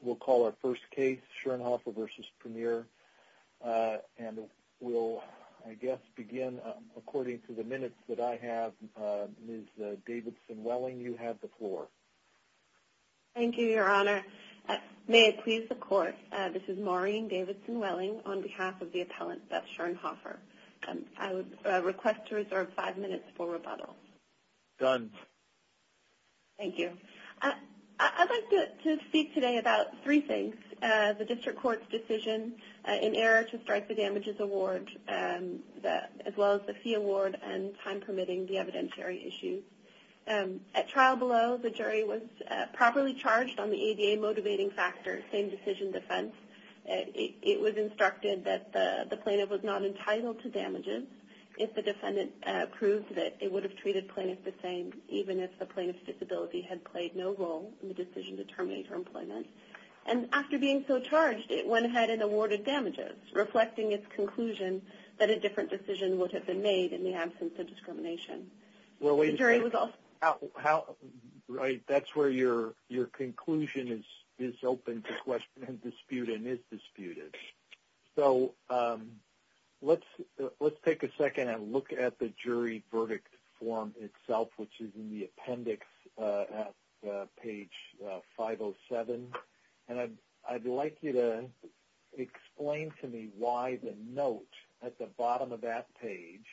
We'll call our first case, Schirnhofer v. Premier, and we'll, I guess, begin according to the minutes that I have. Ms. Davidson-Welling, you have the floor. Thank you, Your Honor. May it please the Court, this is Maureen Davidson-Welling on behalf of the appellant, Beth Schirnhofer. I would request to reserve five minutes for rebuttal. Done. Thank you. I'd like to speak today about three things. The district court's decision in error to strike the damages award, as well as the fee award and time permitting the evidentiary issue. At trial below, the jury was properly charged on the ADA motivating factor, same-decision defense. It was instructed that the plaintiff was not entitled to damages if the defendant proved that it would have treated the plaintiff the same, even if the plaintiff's disability had played no role in the decision to terminate her employment. And after being so charged, it went ahead and awarded damages, reflecting its conclusion that a different decision would have been made in the absence of discrimination. The jury was also... Mr. Laird-Right, that's where your conclusion is open to question and dispute and is disputed. So let's take a second and look at the jury verdict form itself, which is in the appendix at page 507. And I'd like you to explain to me why the note at the bottom of that page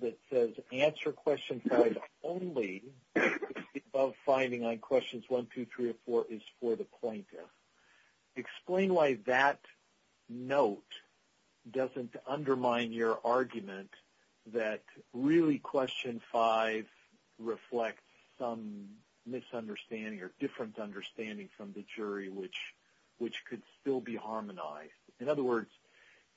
that says, answer question 5 only if the above finding on questions 1, 2, 3, or 4 is for the plaintiff. Explain why that note doesn't undermine your argument that really question 5 reflects some misunderstanding or different understanding from the jury, which could still be harmonized. In other words,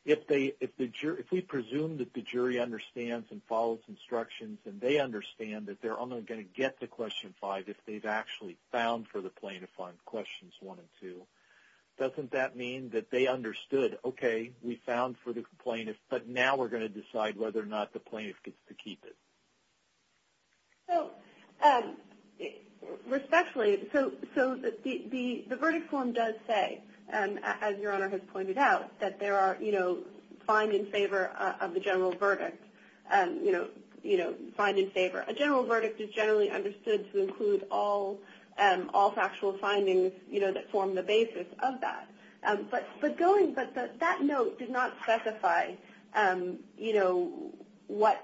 if we presume that the jury understands and follows instructions and they understand that they're only going to get to question 5 if they've actually found for the plaintiff on questions 1 and 2, doesn't that mean that they understood, okay, we found for the plaintiff, but now we're going to decide whether or not the plaintiff gets to keep it? So respectfully, so the verdict form does say, as Your Honor has pointed out, that there are, you know, find in favor of the general verdict, you know, find in favor. A general verdict is generally understood to include all factual findings, you know, that form the basis of that. But that note did not specify, you know, what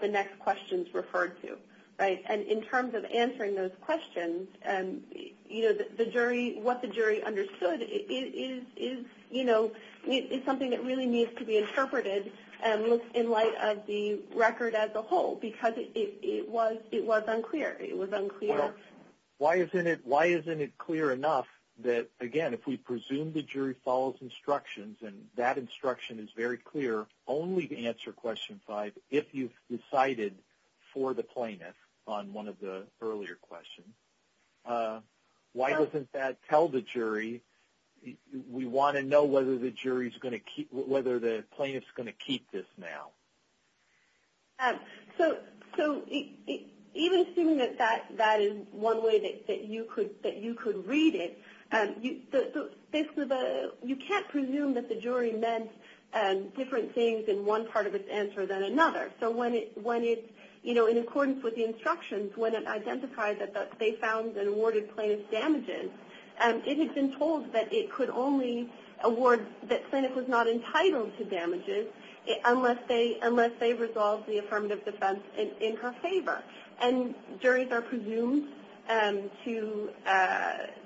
the next question is referred to, right? And in terms of answering those questions, you know, what the jury understood is, you know, is something that really needs to be interpreted in light of the record as a whole because it was unclear. Well, why isn't it clear enough that, again, if we presume the jury follows instructions and that instruction is very clear only to answer question 5 if you've decided for the plaintiff on one of the earlier questions, why doesn't that tell the jury we want to know whether the jury's going to keep, whether the plaintiff's going to keep this now? So even assuming that that is one way that you could read it, you can't presume that the jury meant different things in one part of its answer than another. So when it, you know, in accordance with the instructions, when it identified that they found and awarded plaintiff damages, it had been told that it could only award that plaintiff was not entitled to damages unless they resolved the affirmative defense in her favor. And juries are presumed to,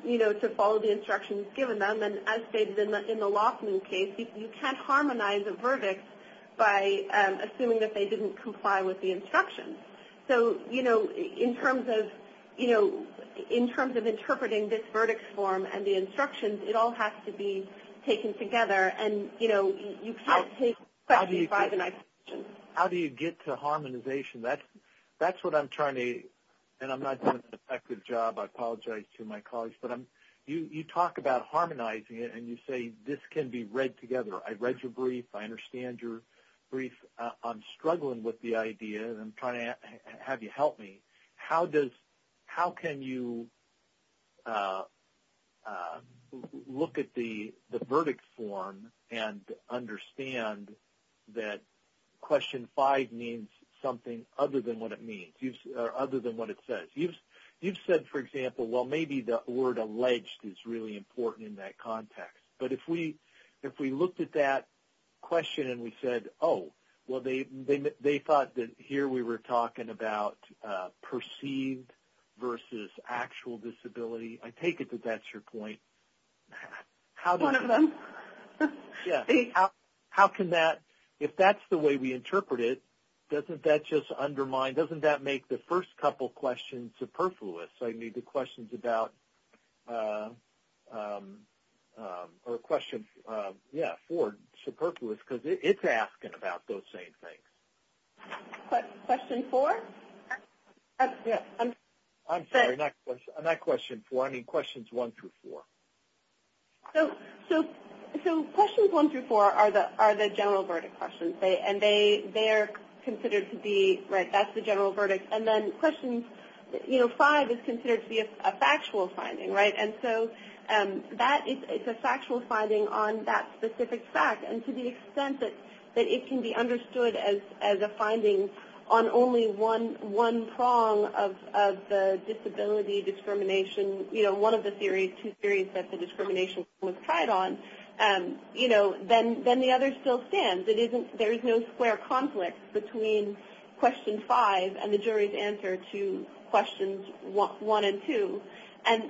you know, to follow the instructions given them. And as stated in the Lofman case, you can't harmonize a verdict by assuming that they didn't comply with the instructions. So, you know, in terms of, you know, in terms of interpreting this verdict form and the instructions, it all has to be taken together. And, you know, you can't take question 5 and ask questions. How do you get to harmonization? That's what I'm trying to, and I'm not doing an effective job, I apologize to my colleagues, but you talk about harmonizing it and you say this can be read together. I read your brief. I understand your brief. I'm struggling with the idea and I'm trying to have you help me. How does, how can you look at the verdict form and understand that question 5 means something other than what it means or other than what it says? You've said, for example, well, maybe the word alleged is really important in that context. But if we looked at that question and we said, oh, well, they thought that here we were talking about perceived versus actual disability, I take it that that's your point. One of them. How can that, if that's the way we interpret it, doesn't that just undermine, doesn't that make the first couple questions superfluous? So I need the questions about, or questions, yeah, 4, superfluous, because it's asking about those same things. Question 4? I'm sorry, not question 4. I mean questions 1 through 4. So questions 1 through 4 are the general verdict questions, and they are considered to be, right, that's the general verdict. And then questions, you know, 5 is considered to be a factual finding, right? And so that is a factual finding on that specific fact. And to the extent that it can be understood as a finding on only one prong of the disability discrimination, you know, one of the theories, two theories that the discrimination was tried on, you know, then the other still stands. It isn't, there is no square conflict between question 5 and the jury's answer to questions 1 and 2. And,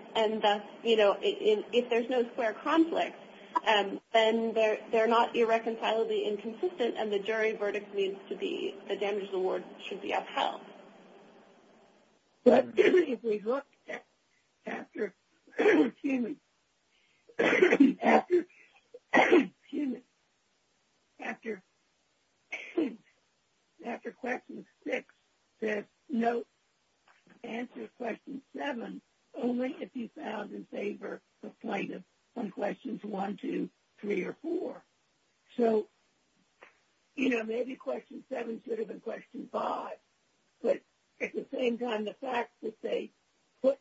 you know, if there's no square conflict, then they're not irreconcilably inconsistent, and the jury verdict needs to be, the damages award should be upheld. But if we look after, excuse me, after, excuse me, after question 6, there's no answer to question 7, only if you found in favor of plaintiff on questions 1, 2, 3, or 4. So, you know, maybe question 7 should have been question 5, but at the same time, the fact that they put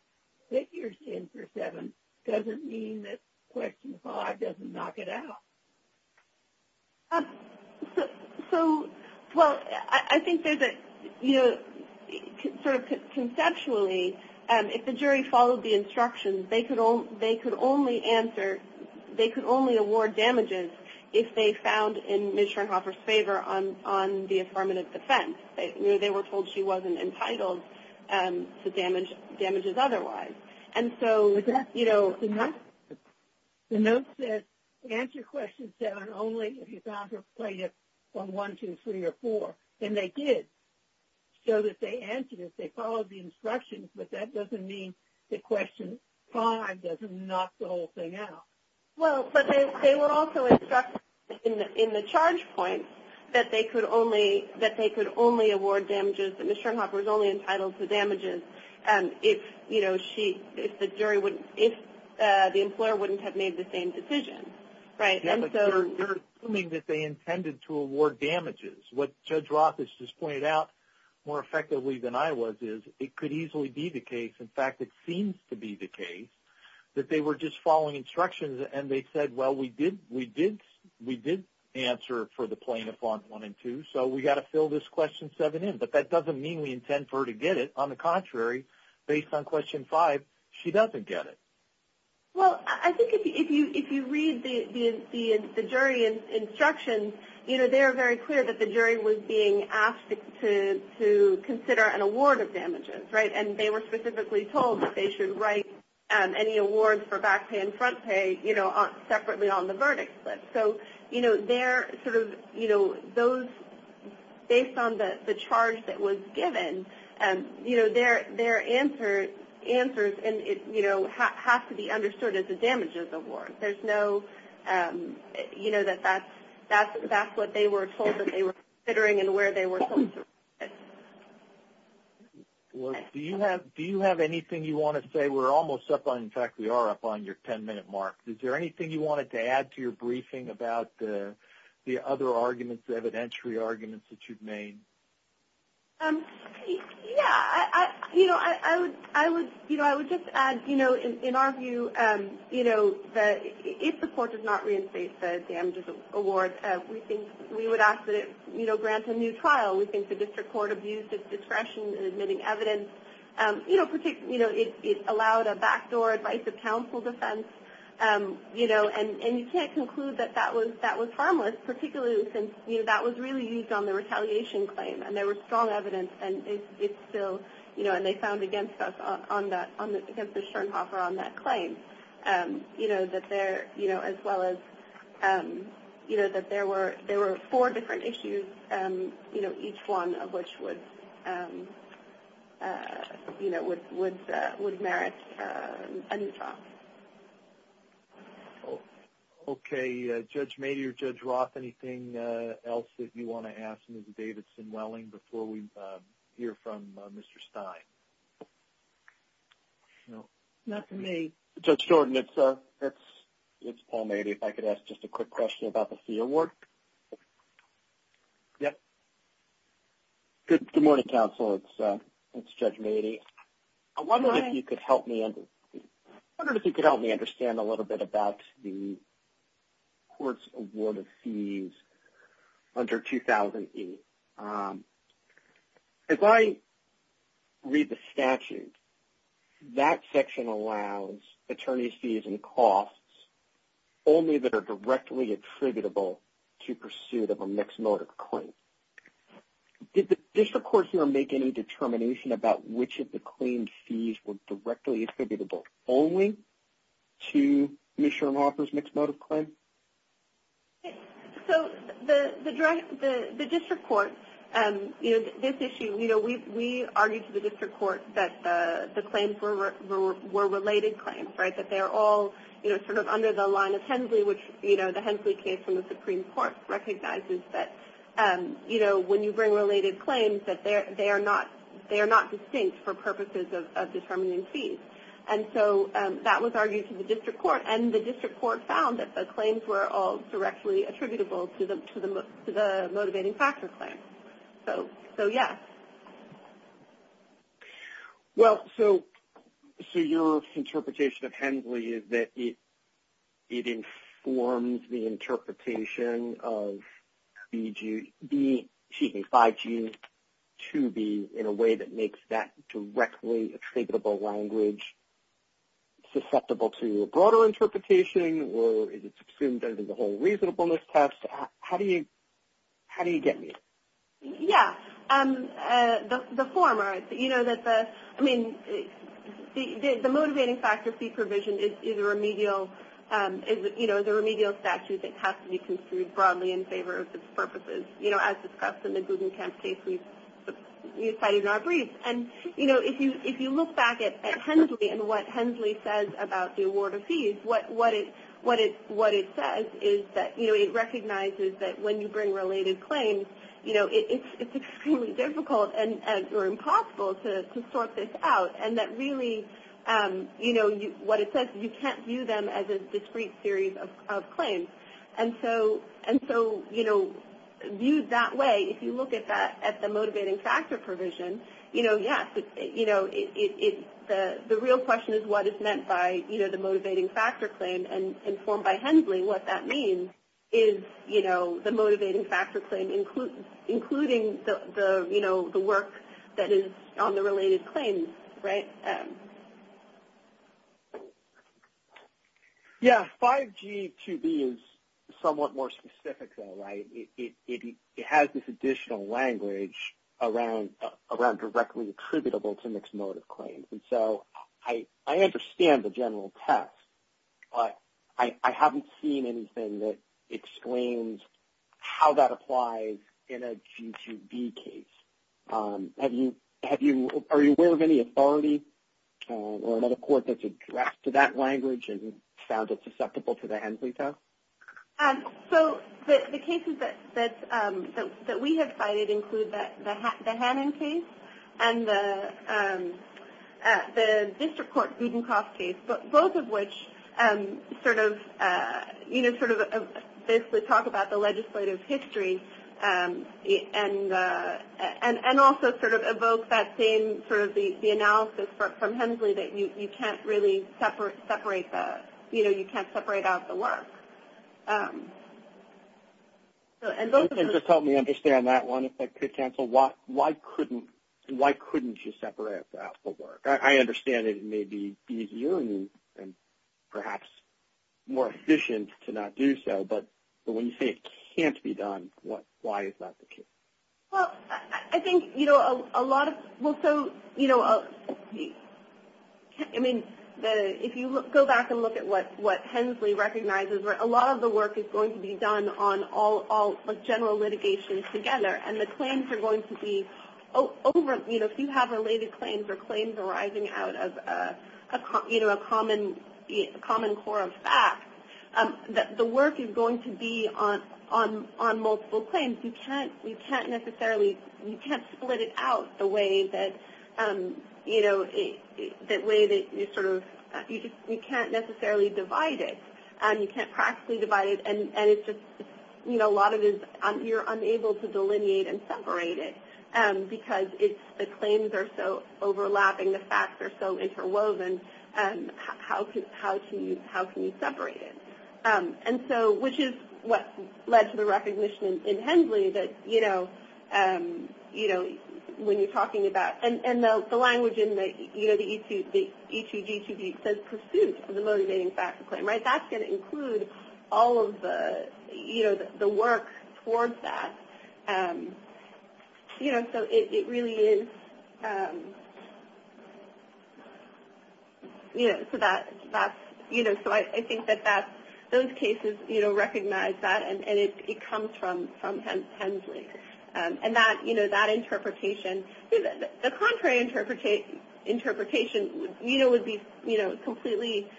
figures in for 7 doesn't mean that question 5 doesn't knock it out. So, well, I think there's a, you know, sort of conceptually, if the jury followed the instructions, they could only answer, they could only award damages if they found in Ms. Schoenhofer's favor on the affirmative defense. You know, they were told she wasn't entitled to damages otherwise. And so, you know, the note says answer question 7 only if you found her plaintiff on 1, 2, 3, or 4. And they did, so that they answered it. They followed the instructions, but that doesn't mean that question 5 doesn't knock the whole thing out. Well, but they were also instructed in the charge point that they could only, that they could only award damages if Ms. Schoenhofer was only entitled to damages if, you know, she, if the jury wouldn't, if the employer wouldn't have made the same decision, right? Yeah, but they're assuming that they intended to award damages. What Judge Roth has just pointed out more effectively than I was is it could easily be the case, in fact, it seems to be the case that they were just following instructions and they said, well, we did, we did, we did answer for the plaintiff on 1 and 2, so we've got to fill this question 7 in. But that doesn't mean we intend for her to get it. On the contrary, based on question 5, she doesn't get it. Well, I think if you read the jury instructions, you know, they are very clear that the jury was being asked to consider an award of damages, right? And they were specifically told that they should write any awards for back pay and front pay, you know, separately on the verdicts list. So, you know, they're sort of, you know, those, based on the charge that was given, you know, their answers, you know, have to be understood as the damages award. There's no, you know, that that's what they were told that they were considering and where they were told to write it. Do you have anything you want to say? We're almost up on, in fact, we are up on your 10-minute mark. Is there anything you wanted to add to your briefing about the other arguments, the evidentiary arguments that you've made? Yeah, you know, I would just add, you know, in our view, you know, if the court does not reinstate the damages award, we think we would ask that it, you know, grant a new trial. We think the district court abused its discretion in admitting evidence. You know, it allowed a backdoor advice of counsel defense, you know, and you can't conclude that that was harmless, particularly since, you know, that was really used on the retaliation claim and there was strong evidence and it's still, you know, and they found against us on that, against the Schoenhofer on that claim, you know, that there, you know, as well as, you know, that there were four different issues, you know, each one of which would, you know, would merit a new trial. Okay. Judge Mady or Judge Roth, anything else that you want to ask Ms. Davidson-Welling before we hear from Mr. Stine? No. Not for me. Judge Jordan, it's Paul Mady. If I could ask just a quick question about the fee award. Yes. Good morning, counsel. It's Judge Mady. I wonder if you could help me understand a little bit about the court's award of fees under 2008. As I read the statute, that section allows attorney's fees and costs only that are directly attributable to pursuit of a mixed motive claim. Did the district court here make any determination about which of the claimed fees were directly attributable only to Ms. Schoenhofer's mixed motive claim? Okay. So the district court, you know, this issue, you know, we argued to the district court that the claims were related claims, right, that they're all, you know, sort of under the line of Hensley, which, you know, the Hensley case from the Supreme Court recognizes that, you know, when you bring related claims that they are not distinct for purposes of determining fees. And so that was argued to the district court, and the district court found that the claims were all directly attributable to the motivating factor claim. So, yes. Well, so your interpretation of Hensley is that it informs the interpretation of 5G, 2B, in a way that makes that directly attributable language susceptible to a broader interpretation, or is it assumed that it is a whole reasonableness test? How do you get me? Yeah. The former. You know, that the, I mean, the motivating factor fee provision is a remedial, you know, the remedial statute that has to be construed broadly in favor of its purposes, you know, as discussed in the Guggenkamp case we cited in our brief. And, you know, if you look back at Hensley and what Hensley says about the award of fees, what it says is that, you know, it recognizes that when you bring related claims, you know, it's extremely difficult or impossible to sort this out. And that really, you know, what it says, you can't view them as a discrete series of claims. And so, you know, viewed that way, if you look at the motivating factor provision, you know, yes, the real question is what is meant by, you know, the motivating factor claim, and informed by Hensley what that means is, you know, the motivating factor claim, including the, you know, the work that is on the related claims, right? Yeah. 5G-2B is somewhat more specific though, right? It has this additional language around directly attributable to mixed motive claims. And so I understand the general test, but I haven't seen anything that explains how that applies in a G-2B case. Are you aware of any authority or another court that's addressed to that language and found it susceptible to the Hensley test? So the cases that we have cited include the Hannon case and the district court Budenkopf case, both of which sort of, you know, sort of basically talk about the legislative history and also sort of evoke that same sort of the analysis from Hensley that you can't really separate the, you know, you can't separate out the work. And those are the... If you can just help me understand that one, if that could cancel, why couldn't you separate out the work? I understand it may be easier and perhaps more efficient to not do so, but when you say it can't be done, why is that the case? Well, I think, you know, a lot of... I mean, if you go back and look at what Hensley recognizes, a lot of the work is going to be done on all general litigations together, and the claims are going to be over... You know, if you have related claims or claims arising out of, you know, a common core of fact, the work is going to be on multiple claims. You can't necessarily... You can't split it out the way that, you know, the way that you sort of... You can't necessarily divide it. You can't practically divide it, and it's just, you know, a lot of it is you're unable to delineate and separate it because the claims are so overlapping, the facts are so interwoven. How can you separate it? And so, which is what led to the recognition in Hensley that, you know, when you're talking about... And the language in the E2G2G says pursuit of the motivating fact claim, right? That's going to include all of the, you know, the work towards that. You know, so it really is... You know, so that's... You know, so I think that those cases, you know, recognize that, and it comes from Hensley. And that, you know, that interpretation... The contrary interpretation, you know, would be, you know, completely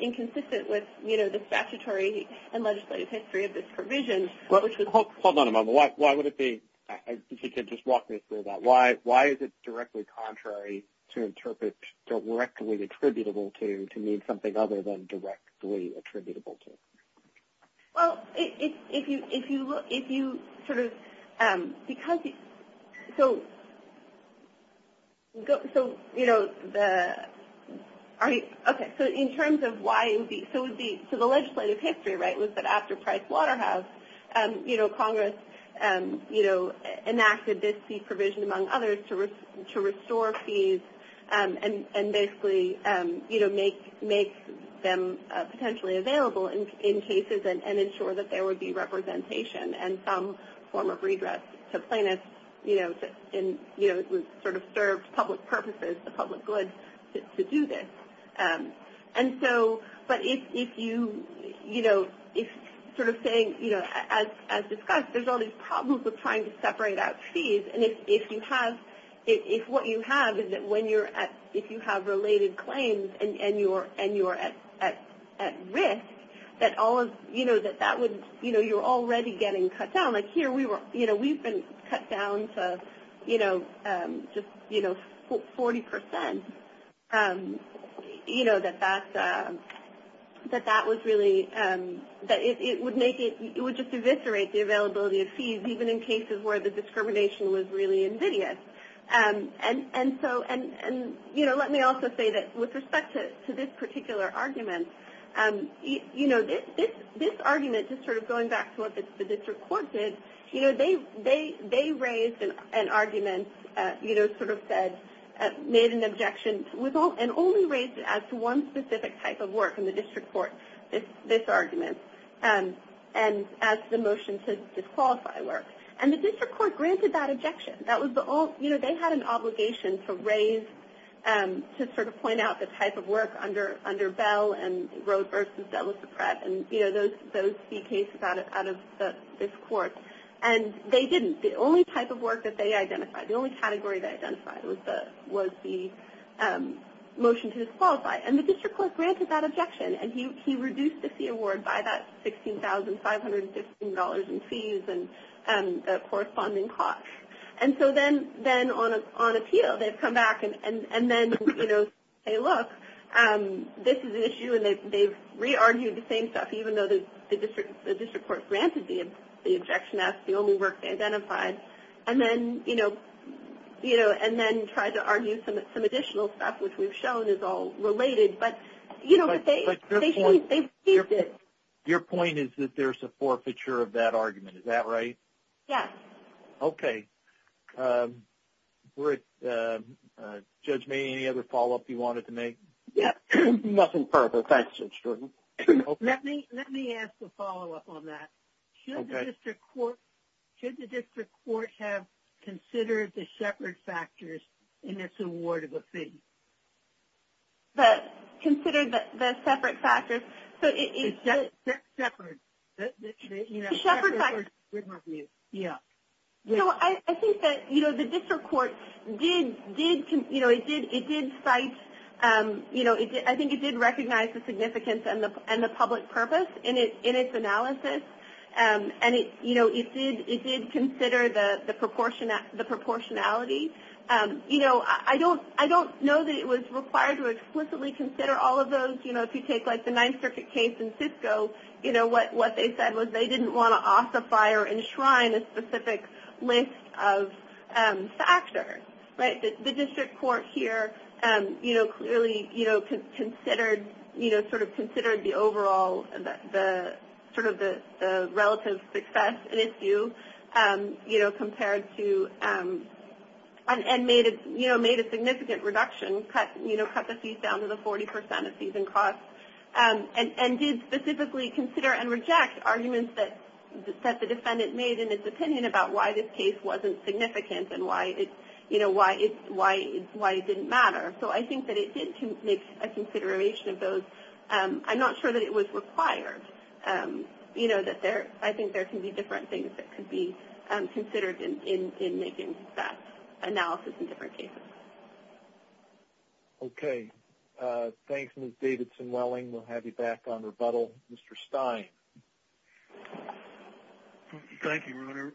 inconsistent with, you know, the statutory and legislative history of this provision, which was... Hold on a moment. Why would it be... If you could just walk me through that. Why is it directly contrary to interpret directly attributable to to mean something other than directly attributable to? Well, if you sort of... Because... So, you know, the... Okay, so in terms of why it would be... So the legislative history, right, was that after Price Waterhouse, you know, Congress, you know, enacted this fee provision, among others, to restore fees and basically, you know, make them potentially available in cases and ensure that there would be representation and some form of redress to plaintiffs, you know, sort of served public purposes, the public good to do this. And so... If you, you know, if sort of saying, you know, as discussed, there's all these problems with trying to separate out fees. And if you have... If what you have is that when you're at... If you have related claims and you're at risk, that all of... You know, that that would... You know, you're already getting cut down. Like here we were... You know, we've been cut down to, you know, just, you know, 40%. You know, that that was really... That it would make it... It would just eviscerate the availability of fees, even in cases where the discrimination was really invidious. And so... And, you know, let me also say that with respect to this particular argument, you know, this argument, just sort of going back to what the district court did, you know, they raised an argument, you know, sort of said, made an objection and only raised it as to one specific type of work in the district court, this argument, and as the motion to disqualify work. And the district court granted that objection. That was the only... You know, they had an obligation to raise, to sort of point out the type of work under Bell and Rhoad versus De La Suprette and, you know, those fee cases out of this court. And they didn't. The only type of work that they identified, the only category they identified, was the motion to disqualify. And the district court granted that objection. And he reduced the fee award by that $16,515 in fees and the corresponding cost. And so then on appeal, they've come back and then, you know, say, look, this is an issue. And they've re-argued the same stuff, even though the district court granted the objection as the only work they identified. And then, you know, you know, and then tried to argue some additional stuff, which we've shown is all related. But, you know, they've used it. Your point is that there's a forfeiture of that argument. Is that right? Yes. Okay. Judge Mayne, any other follow-up you wanted to make? Yes. Nothing further. Thanks, Judge Jordan. Let me ask a follow-up on that. Should the district court have considered the shepherd factors in its award of a fee? Considered the shepherd factors? Shepherd. Shepherd factors. Yeah. So I think that, you know, the district court did, you know, it did cite, you know, I think it did recognize the significance and the public purpose in its analysis. And, you know, it did consider the proportionality. You know, I don't know that it was required to explicitly consider all of those. You know, if you take, like, the Ninth Circuit case in Cisco, you know, what they said was they didn't want to ossify or enshrine a specific list of factors. Right? The district court here, you know, clearly, you know, considered, you know, sort of considered the overall sort of the relative success and issue, you know, compared to and made a significant reduction, you know, cut the fees down to the 40% of fees and costs, and did specifically consider and reject arguments that the defendant made in its opinion about why this case wasn't significant and why it, you know, why it didn't matter. So I think that it did make a consideration of those. I'm not sure that it was required. You know, I think there can be different things that can be considered in making that analysis in different cases. Okay. Thanks, Ms. Davidson-Welling. We'll have you back on rebuttal. Mr. Stein. Okay. Thank you, Reuter.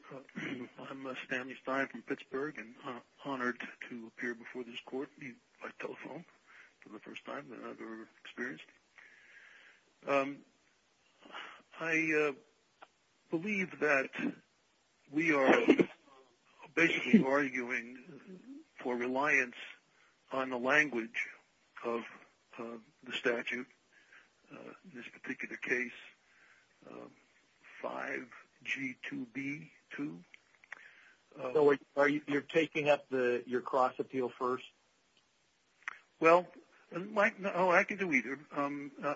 I'm Stanley Stein from Pittsburgh and honored to appear before this court by telephone for the first time that I've ever experienced. I believe that we are basically arguing for reliance on the language of the statute in this particular case. 5G2B2. So you're taking up your cross-appeal first? Well, I can do either.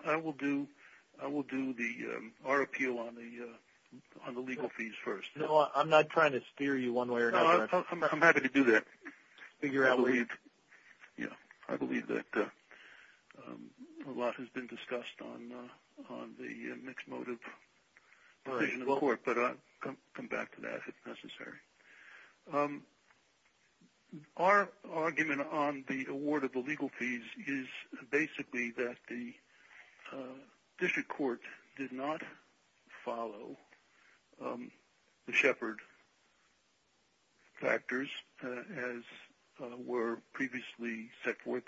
I will do our appeal on the legal fees first. No, I'm not trying to steer you one way or another. I'm happy to do that. I believe that a lot has been discussed on the mixed motive provision of the court, but I'll come back to that if necessary. Our argument on the award of the legal fees is basically that the district court did not follow the Shepard factors as were previously set forth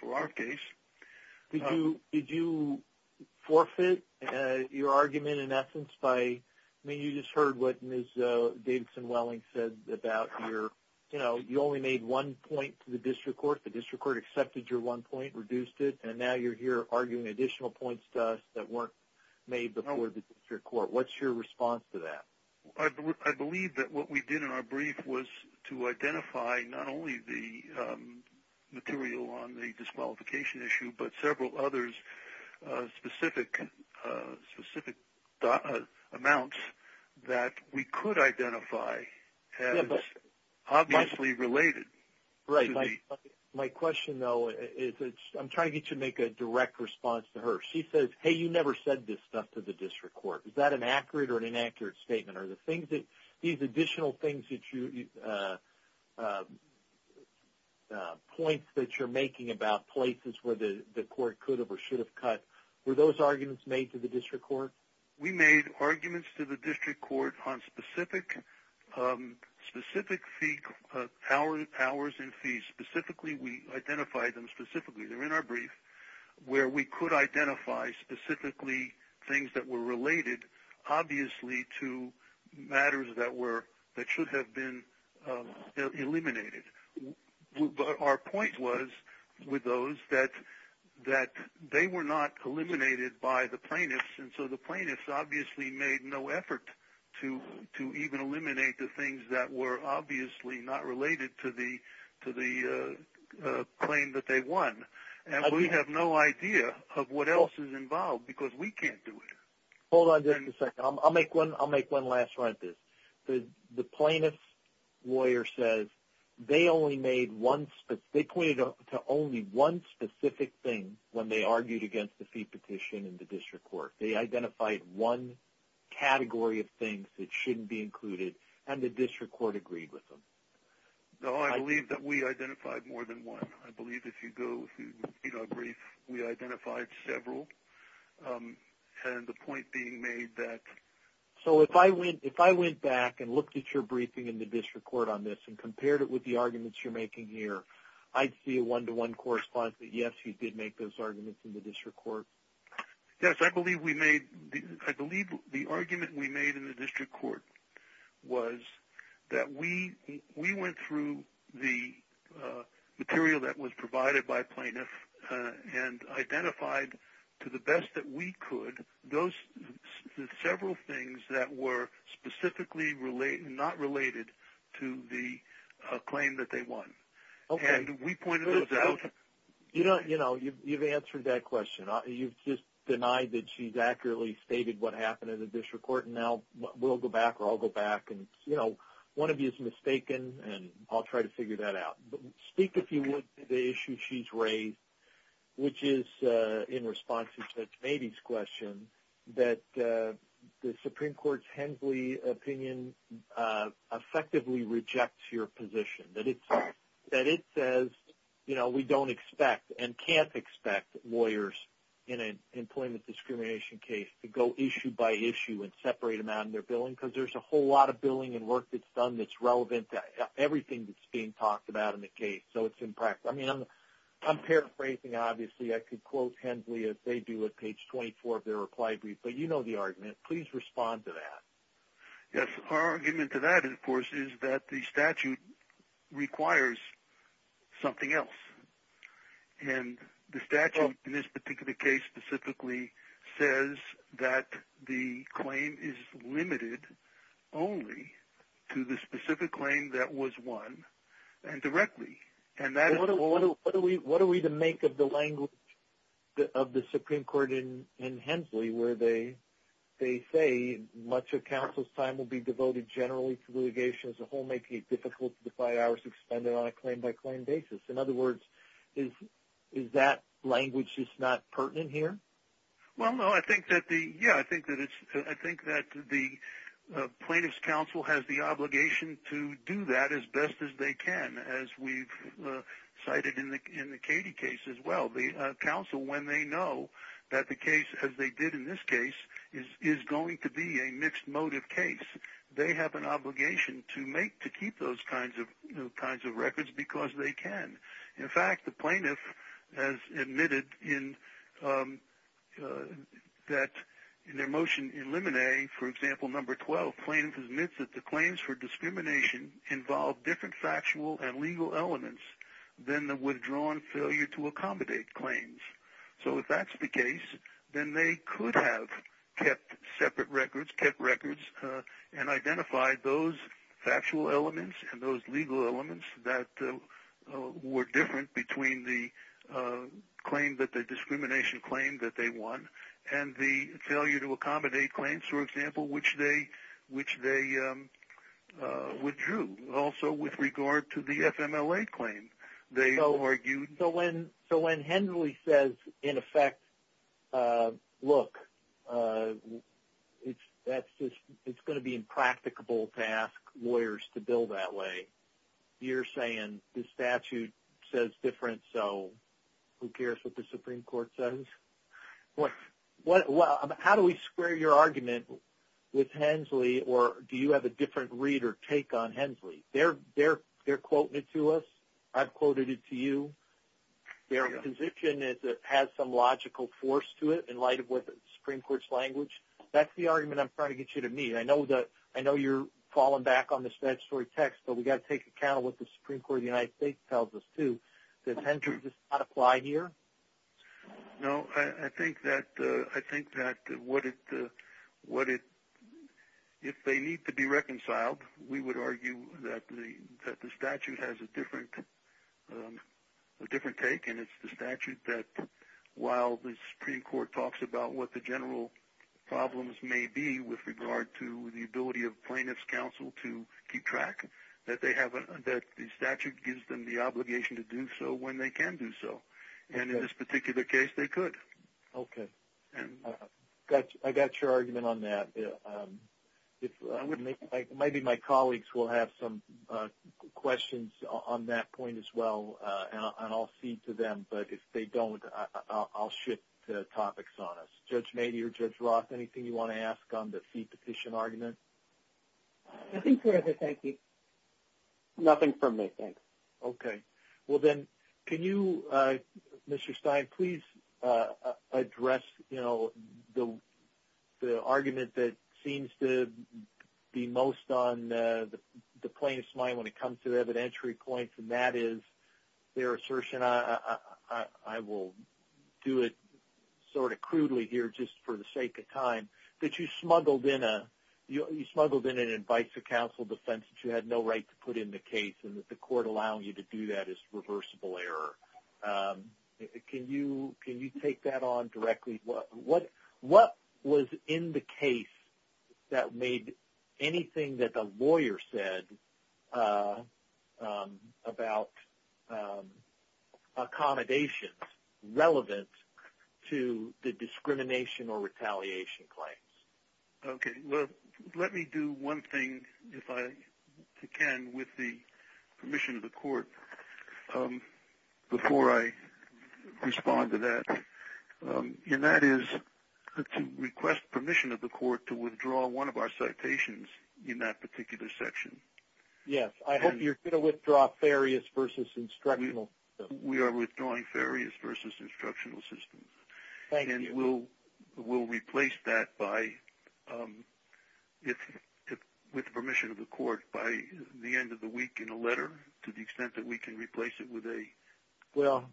for our case. Did you forfeit your argument in essence? I mean, you just heard what Ms. Davidson-Welling said about you only made one point to the district court. The district court accepted your one point, reduced it, and now you're here arguing additional points to us that weren't made before the district court. What's your response to that? I believe that what we did in our brief was to identify not only the material on the disqualification issue, but several others, specific amounts that we could identify as obviously related. Right. My question, though, is I'm trying to get you to make a direct response to her. She says, hey, you never said this stuff to the district court. Is that an accurate or an inaccurate statement? Are these additional points that you're making about places where the court could have or should have cut, were those arguments made to the district court? We made arguments to the district court on specific hours and fees. We identified them specifically. They're in our brief, where we could identify specifically things that were related obviously to matters that should have been eliminated. Our point was with those that they were not eliminated by the plaintiffs, and so the plaintiffs obviously made no effort to even eliminate the things that were obviously not related to the claim that they won. And we have no idea of what else is involved because we can't do it. Hold on just a second. I'll make one last run at this. The plaintiff's lawyer says they pointed to only one specific thing when they argued against the fee petition in the district court. They identified one category of things that shouldn't be included, and the district court agreed with them. No, I believe that we identified more than one. I believe if you go to our brief, we identified several. And the point being made that so if I went back and looked at your briefing in the district court on this and compared it with the arguments you're making here, I'd see a one-to-one correspondence that, yes, you did make those arguments in the district court. Yes, I believe the argument we made in the district court was that we went through the material that was provided by a plaintiff and identified to the best that we could those several things that were specifically not related to the claim that they won. And we pointed those out. You know, you've answered that question. You've just denied that she's accurately stated what happened in the district court, and now we'll go back or I'll go back. And, you know, one of you is mistaken, and I'll try to figure that out. But speak, if you would, to the issue she's raised, which is in response to Mady's question, that the Supreme Court's Hensley opinion effectively rejects your position, that it says, you know, we don't expect and can't expect lawyers in an employment discrimination case to go issue by issue and separate them out in their billing because there's a whole lot of billing and work that's done that's relevant to everything that's being talked about in the case. So it's impractical. I mean, I'm paraphrasing, obviously. I could quote Hensley as they do at page 24 of their reply brief, but you know the argument. Please respond to that. Yes, our argument to that, of course, is that the statute requires something else. And the statute in this particular case specifically says that the claim is limited only to the specific claim that was won and directly. What are we to make of the language of the Supreme Court in Hensley where they say much of counsel's time will be devoted generally to litigation as a whole, making it difficult to define hours expended on a claim-by-claim basis? In other words, is that language just not pertinent here? Well, no, I think that the plaintiff's counsel has the obligation to do that as best as they can. As we've cited in the Cady case as well, the counsel, when they know that the case, as they did in this case, is going to be a mixed motive case, they have an obligation to keep those kinds of records because they can. In fact, the plaintiff has admitted that in their motion in Limine, for example, number 12, the plaintiff admits that the claims for discrimination involve different factual and legal elements than the withdrawn failure to accommodate claims. So if that's the case, then they could have kept separate records, kept records, and identified those factual elements and those legal elements that were different between the discrimination claim that they won and the failure to accommodate claims, for example, which they withdrew. Also, with regard to the FMLA claim, they argued... So when Hendley says, in effect, look, it's going to be impracticable to ask lawyers to bill that way, you're saying the statute says different, so who cares what the Supreme Court says? How do we square your argument with Hendley, or do you have a different read or take on Hendley? They're quoting it to us. I've quoted it to you. Their position has some logical force to it in light of what the Supreme Court's language. That's the argument I'm trying to get you to meet. I know you're falling back on this statutory text, but we've got to take account of what the Supreme Court of the United States tells us, too, that Hendley does not apply here. No, I think that what it... If they need to be reconciled, we would argue that the statute has a different take, and it's the statute that, while the Supreme Court talks about what the general problems may be with regard to the ability of plaintiff's counsel to keep track, that the statute gives them the obligation to do so when they can do so. And in this particular case, they could. Okay. I got your argument on that. Maybe my colleagues will have some questions on that point as well, and I'll see to them. But if they don't, I'll shift topics on us. Judge Mady or Judge Roth, anything you want to ask on the fee petition argument? Nothing further, thank you. Nothing from me, thanks. Okay. Well, then, can you, Mr. Stein, please address, you know, the argument that seems to be most on the plaintiff's mind when it comes to evidentiary points, and that is their assertion, I will do it sort of crudely here just for the sake of time, that you smuggled in an advice of counsel defense that you had no right to put in the case and that the court allowing you to do that is reversible error. Can you take that on directly? What was in the case that made anything that the lawyer said about accommodations relevant to the discrimination or retaliation claims? Okay. Well, let me do one thing, if I can, with the permission of the court before I respond to that, and that is to request permission of the court to withdraw one of our citations in that particular section. Yes. I hope you're going to withdraw Farias v. Instructional Systems. We are withdrawing Farias v. Instructional Systems. Thank you. And we'll replace that by, with the permission of the court, by the end of the week in a letter to the extent that we can replace it with a... Well,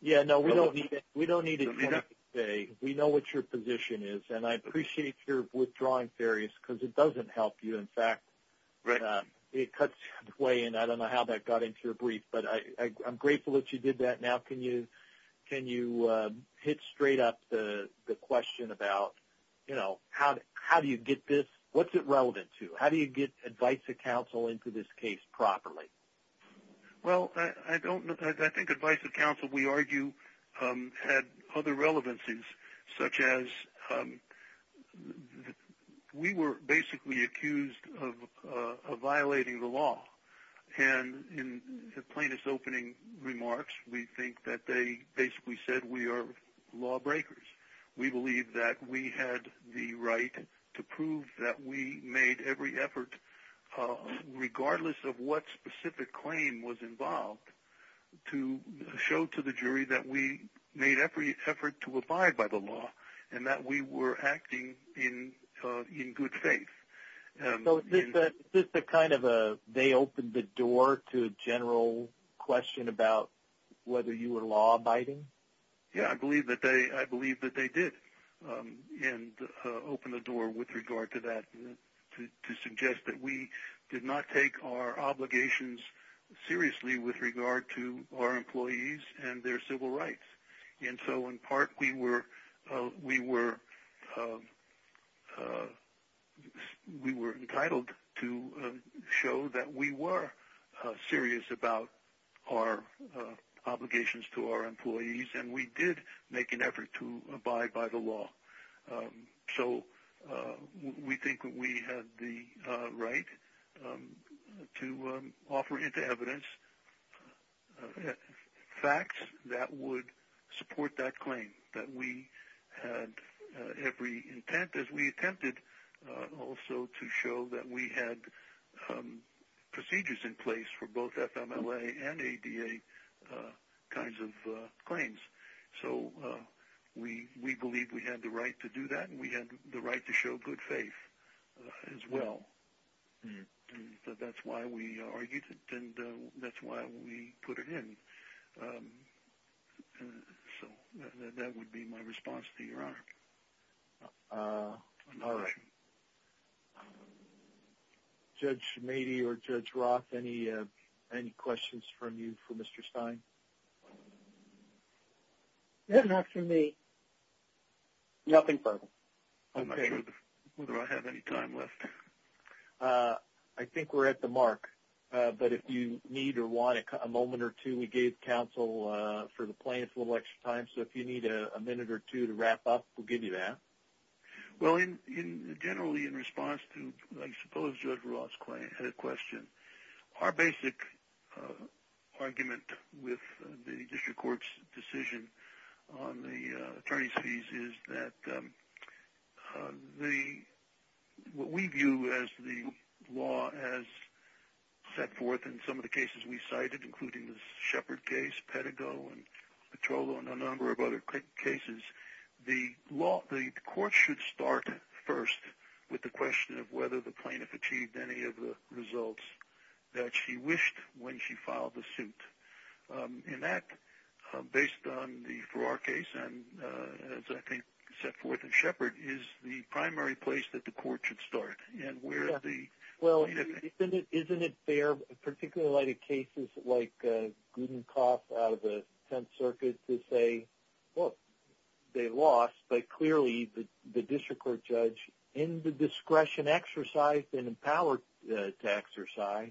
yeah, no, we don't need it today. We know what your position is, and I appreciate your withdrawing Farias because it doesn't help you. In fact, it cuts way in. I don't know how that got into your brief, but I'm grateful that you did that. Now can you hit straight up the question about, you know, how do you get this? What's it relevant to? How do you get advice of counsel into this case properly? Well, I think advice of counsel, we argue, had other relevancies, such as we were basically accused of violating the law. And in plaintiff's opening remarks, we think that they basically said we are lawbreakers. We believe that we had the right to prove that we made every effort, regardless of what specific claim was involved, to show to the jury that we made every effort to abide by the law and that we were acting in good faith. So is this a kind of a they opened the door to a general question about whether you were law abiding? Yeah, I believe that they did open the door with regard to that, to suggest that we did not take our obligations seriously with regard to our employees and their civil rights. And so, in part, we were entitled to show that we were serious about our obligations to our employees, and we did make an effort to abide by the law. So we think that we had the right to offer into evidence facts that would support that claim, that we had every intent, as we attempted also to show, that we had procedures in place for both FMLA and ADA kinds of claims. So we believe we had the right to do that, and we had the right to show good faith as well. So that's why we argued it, and that's why we put it in. So that would be my response to Your Honor. All right. Judge Mady or Judge Roth, any questions from you for Mr. Stein? Nothing for me. Nothing for him. I'm not sure whether I have any time left. I think we're at the mark, but if you need or want a moment or two, we gave counsel for the plaintiff a little extra time. So if you need a minute or two to wrap up, we'll give you that. Well, generally in response to, I suppose, Judge Roth's question, our basic argument with the district court's decision on the attorney's fees is that what we view as the law has set forth in some of the cases we cited, including the Shepard case, Pettigo, Petrollo, and a number of other cases, the court should start first with the question of whether the plaintiff has achieved any of the results that she wished when she filed the suit. And that, based on the Farrar case, and as I think set forth in Shepard, is the primary place that the court should start. Well, isn't it fair, particularly in the light of cases like Gudenkoff out of the Tenth Circuit, to say, well, they lost, but clearly the district court judge, in the discretion exercised and empowered to exercise,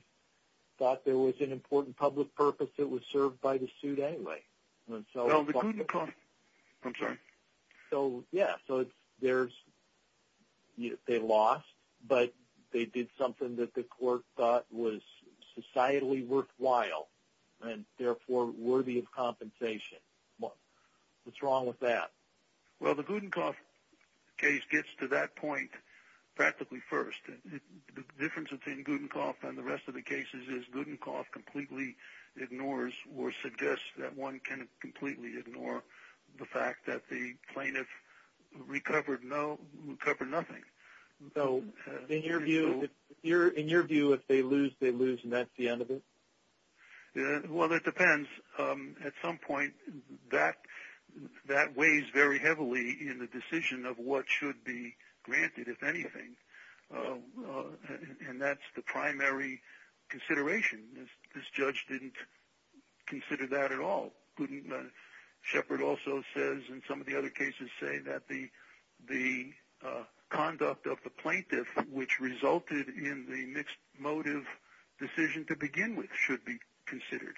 thought there was an important public purpose that was served by the suit anyway. Well, the Gudenkoff, I'm sorry. So, yeah, so they lost, but they did something that the court thought was societally worthwhile and therefore worthy of compensation. What's wrong with that? Well, the Gudenkoff case gets to that point practically first. The difference between Gudenkoff and the rest of the cases is Gudenkoff completely ignores or suggests that one can completely ignore the fact that the plaintiff recovered nothing. So, in your view, if they lose, they lose, and that's the end of it? Well, that depends. At some point, that weighs very heavily in the decision of what should be granted, if anything, and that's the primary consideration. This judge didn't consider that at all. Shepard also says, and some of the other cases say, that the conduct of the plaintiff, which resulted in the mixed motive decision to begin with, should be considered.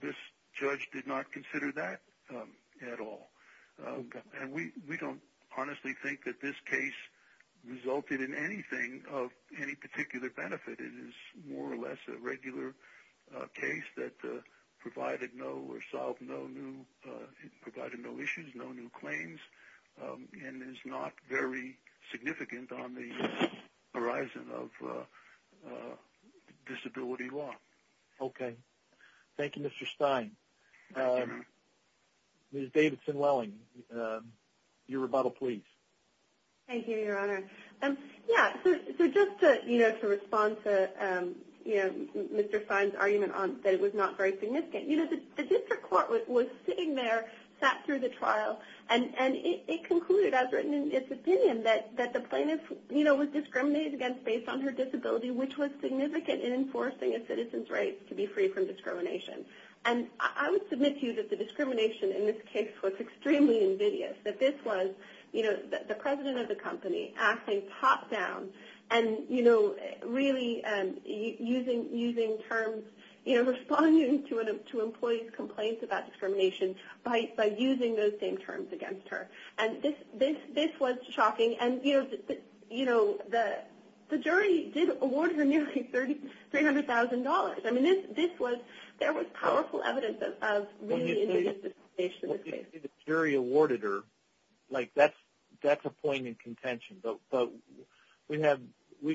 This judge did not consider that at all. And we don't honestly think that this case resulted in anything of any particular benefit. It is more or less a regular case that provided no or solved no new issues, no new claims, and is not very significant on the horizon of disability law. Okay. Thank you, Mr. Stein. Ms. Davidson-Lelling, your rebuttal, please. Thank you, Your Honor. Yeah, so just to respond to Mr. Stein's argument that it was not very And it concluded, as written in his opinion, that the plaintiff was discriminated against based on her disability, which was significant in enforcing a citizen's right to be free from discrimination. And I would submit to you that the discrimination in this case was extremely invidious, that this was the president of the company acting top down and really using terms, responding to employees' complaints about And this was shocking. And, you know, the jury did award her nearly $300,000. I mean, there was powerful evidence of really invidious discrimination in this case. Well, the jury awarded her. Like, that's a point in contention. But we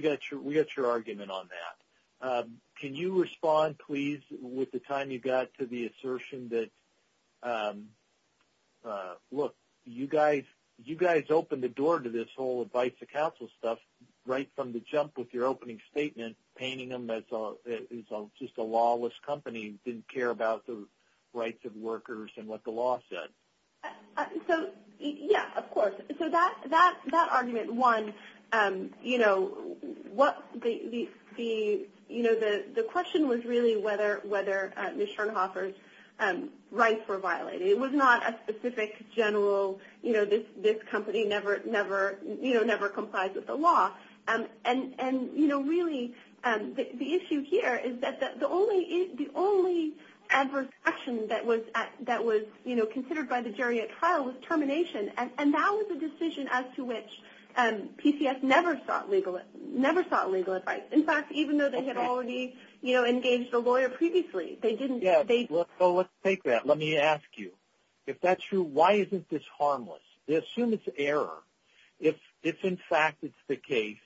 got your argument on that. Can you respond, please, with the time you got to the assertion that, look, you guys opened the door to this whole Advice to Counsel stuff right from the jump with your opening statement, painting them as just a lawless company who didn't care about the rights of workers and what the law said. So, yeah, of course. So that argument, one, you know, the question was really whether Ms. Schoenhofer's rights were violated. It was not a specific general, you know, this company never complies with the law. And, you know, really the issue here is that the only adverse action that was, you know, considered by the jury at trial was termination. And that was a decision as to which PCS never sought legal advice. In fact, even though they had already, you know, engaged a lawyer previously. Yeah, so let's take that. Let me ask you, if that's true, why isn't this harmless? They assume it's error. If, in fact, it's the case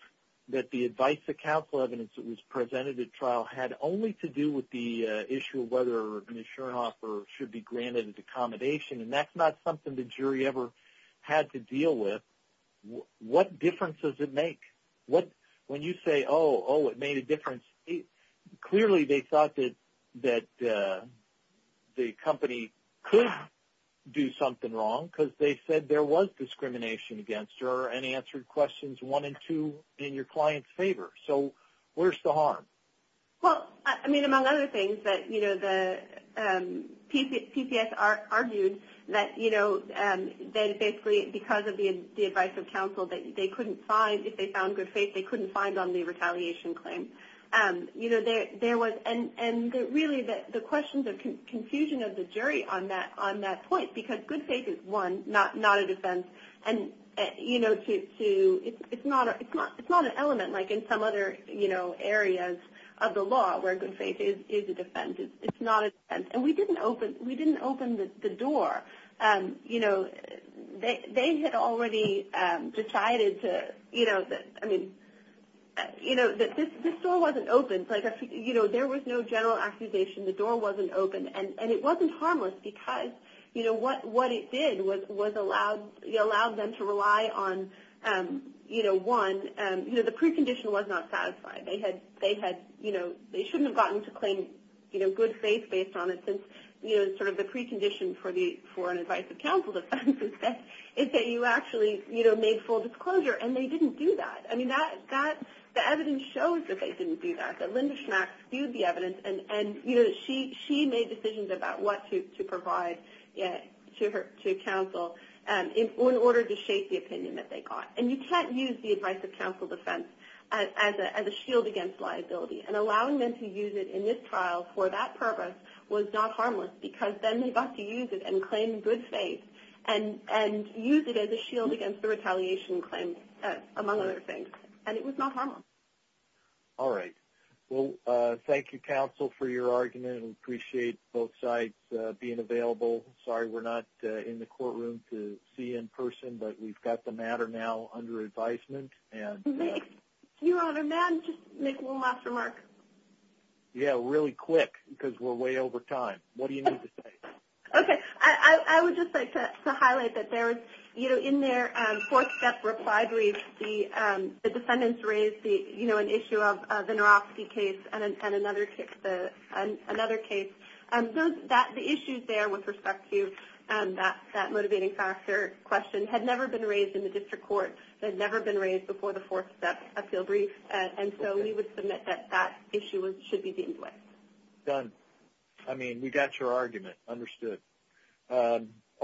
that the Advice to Counsel evidence that was presented at trial had only to do with the issue of whether Ms. Schoenhofer should be had to deal with, what difference does it make? When you say, oh, oh, it made a difference, clearly they thought that the company could do something wrong because they said there was discrimination against her and answered questions one and two in your client's favor. So where's the harm? Well, I mean, among other things, that, you know, the PCS argued that, you know, that basically because of the Advice of Counsel that they couldn't find, if they found good faith, they couldn't find on the retaliation claim. You know, there was, and really the questions of confusion of the jury on that point, because good faith is, one, not a defense. And, you know, it's not an element like in some other, you know, areas of the law where good faith is a defense. It's not a defense. And we didn't open the door. You know, they had already decided to, you know, I mean, you know, this door wasn't open. Like, you know, there was no general accusation. The door wasn't open. And it wasn't harmless, because, you know, what it did was it allowed them to rely on, you know, one, you know, the precondition was not satisfied. They had, you know, they shouldn't have gotten to claim, you know, good faith based on it, since, you know, sort of the precondition for an Advice of Counsel defense is that you actually, you know, made full disclosure. And they didn't do that. I mean, the evidence shows that they didn't do that, that Linda Schmack viewed the evidence. And, you know, she made decisions about what to provide to counsel in order to shape the opinion that they got. And you can't use the Advice of Counsel defense as a shield against liability. And allowing them to use it in this trial for that purpose was not harmless, because then they got to use it and claim good faith and use it as a shield against the retaliation claims, among other things. And it was not harmless. All right. Well, thank you, counsel, for your argument. We appreciate both sides being available. Sorry we're not in the courtroom to see you in person, but we've got the matter now under advisement. Your Honor, may I just make one last remark? Yeah, really quick, because we're way over time. What do you need to say? Okay. I would just like to highlight that there was, you know, in their fourth step reply brief, the defendants raised, you know, an issue of the Neuropsi case and another case. So the issues there with respect to that motivating factor question had never been raised in the district court. They'd never been raised before the fourth step appeal brief. And so we would submit that that issue should be deemed with. Done. I mean, we got your argument understood.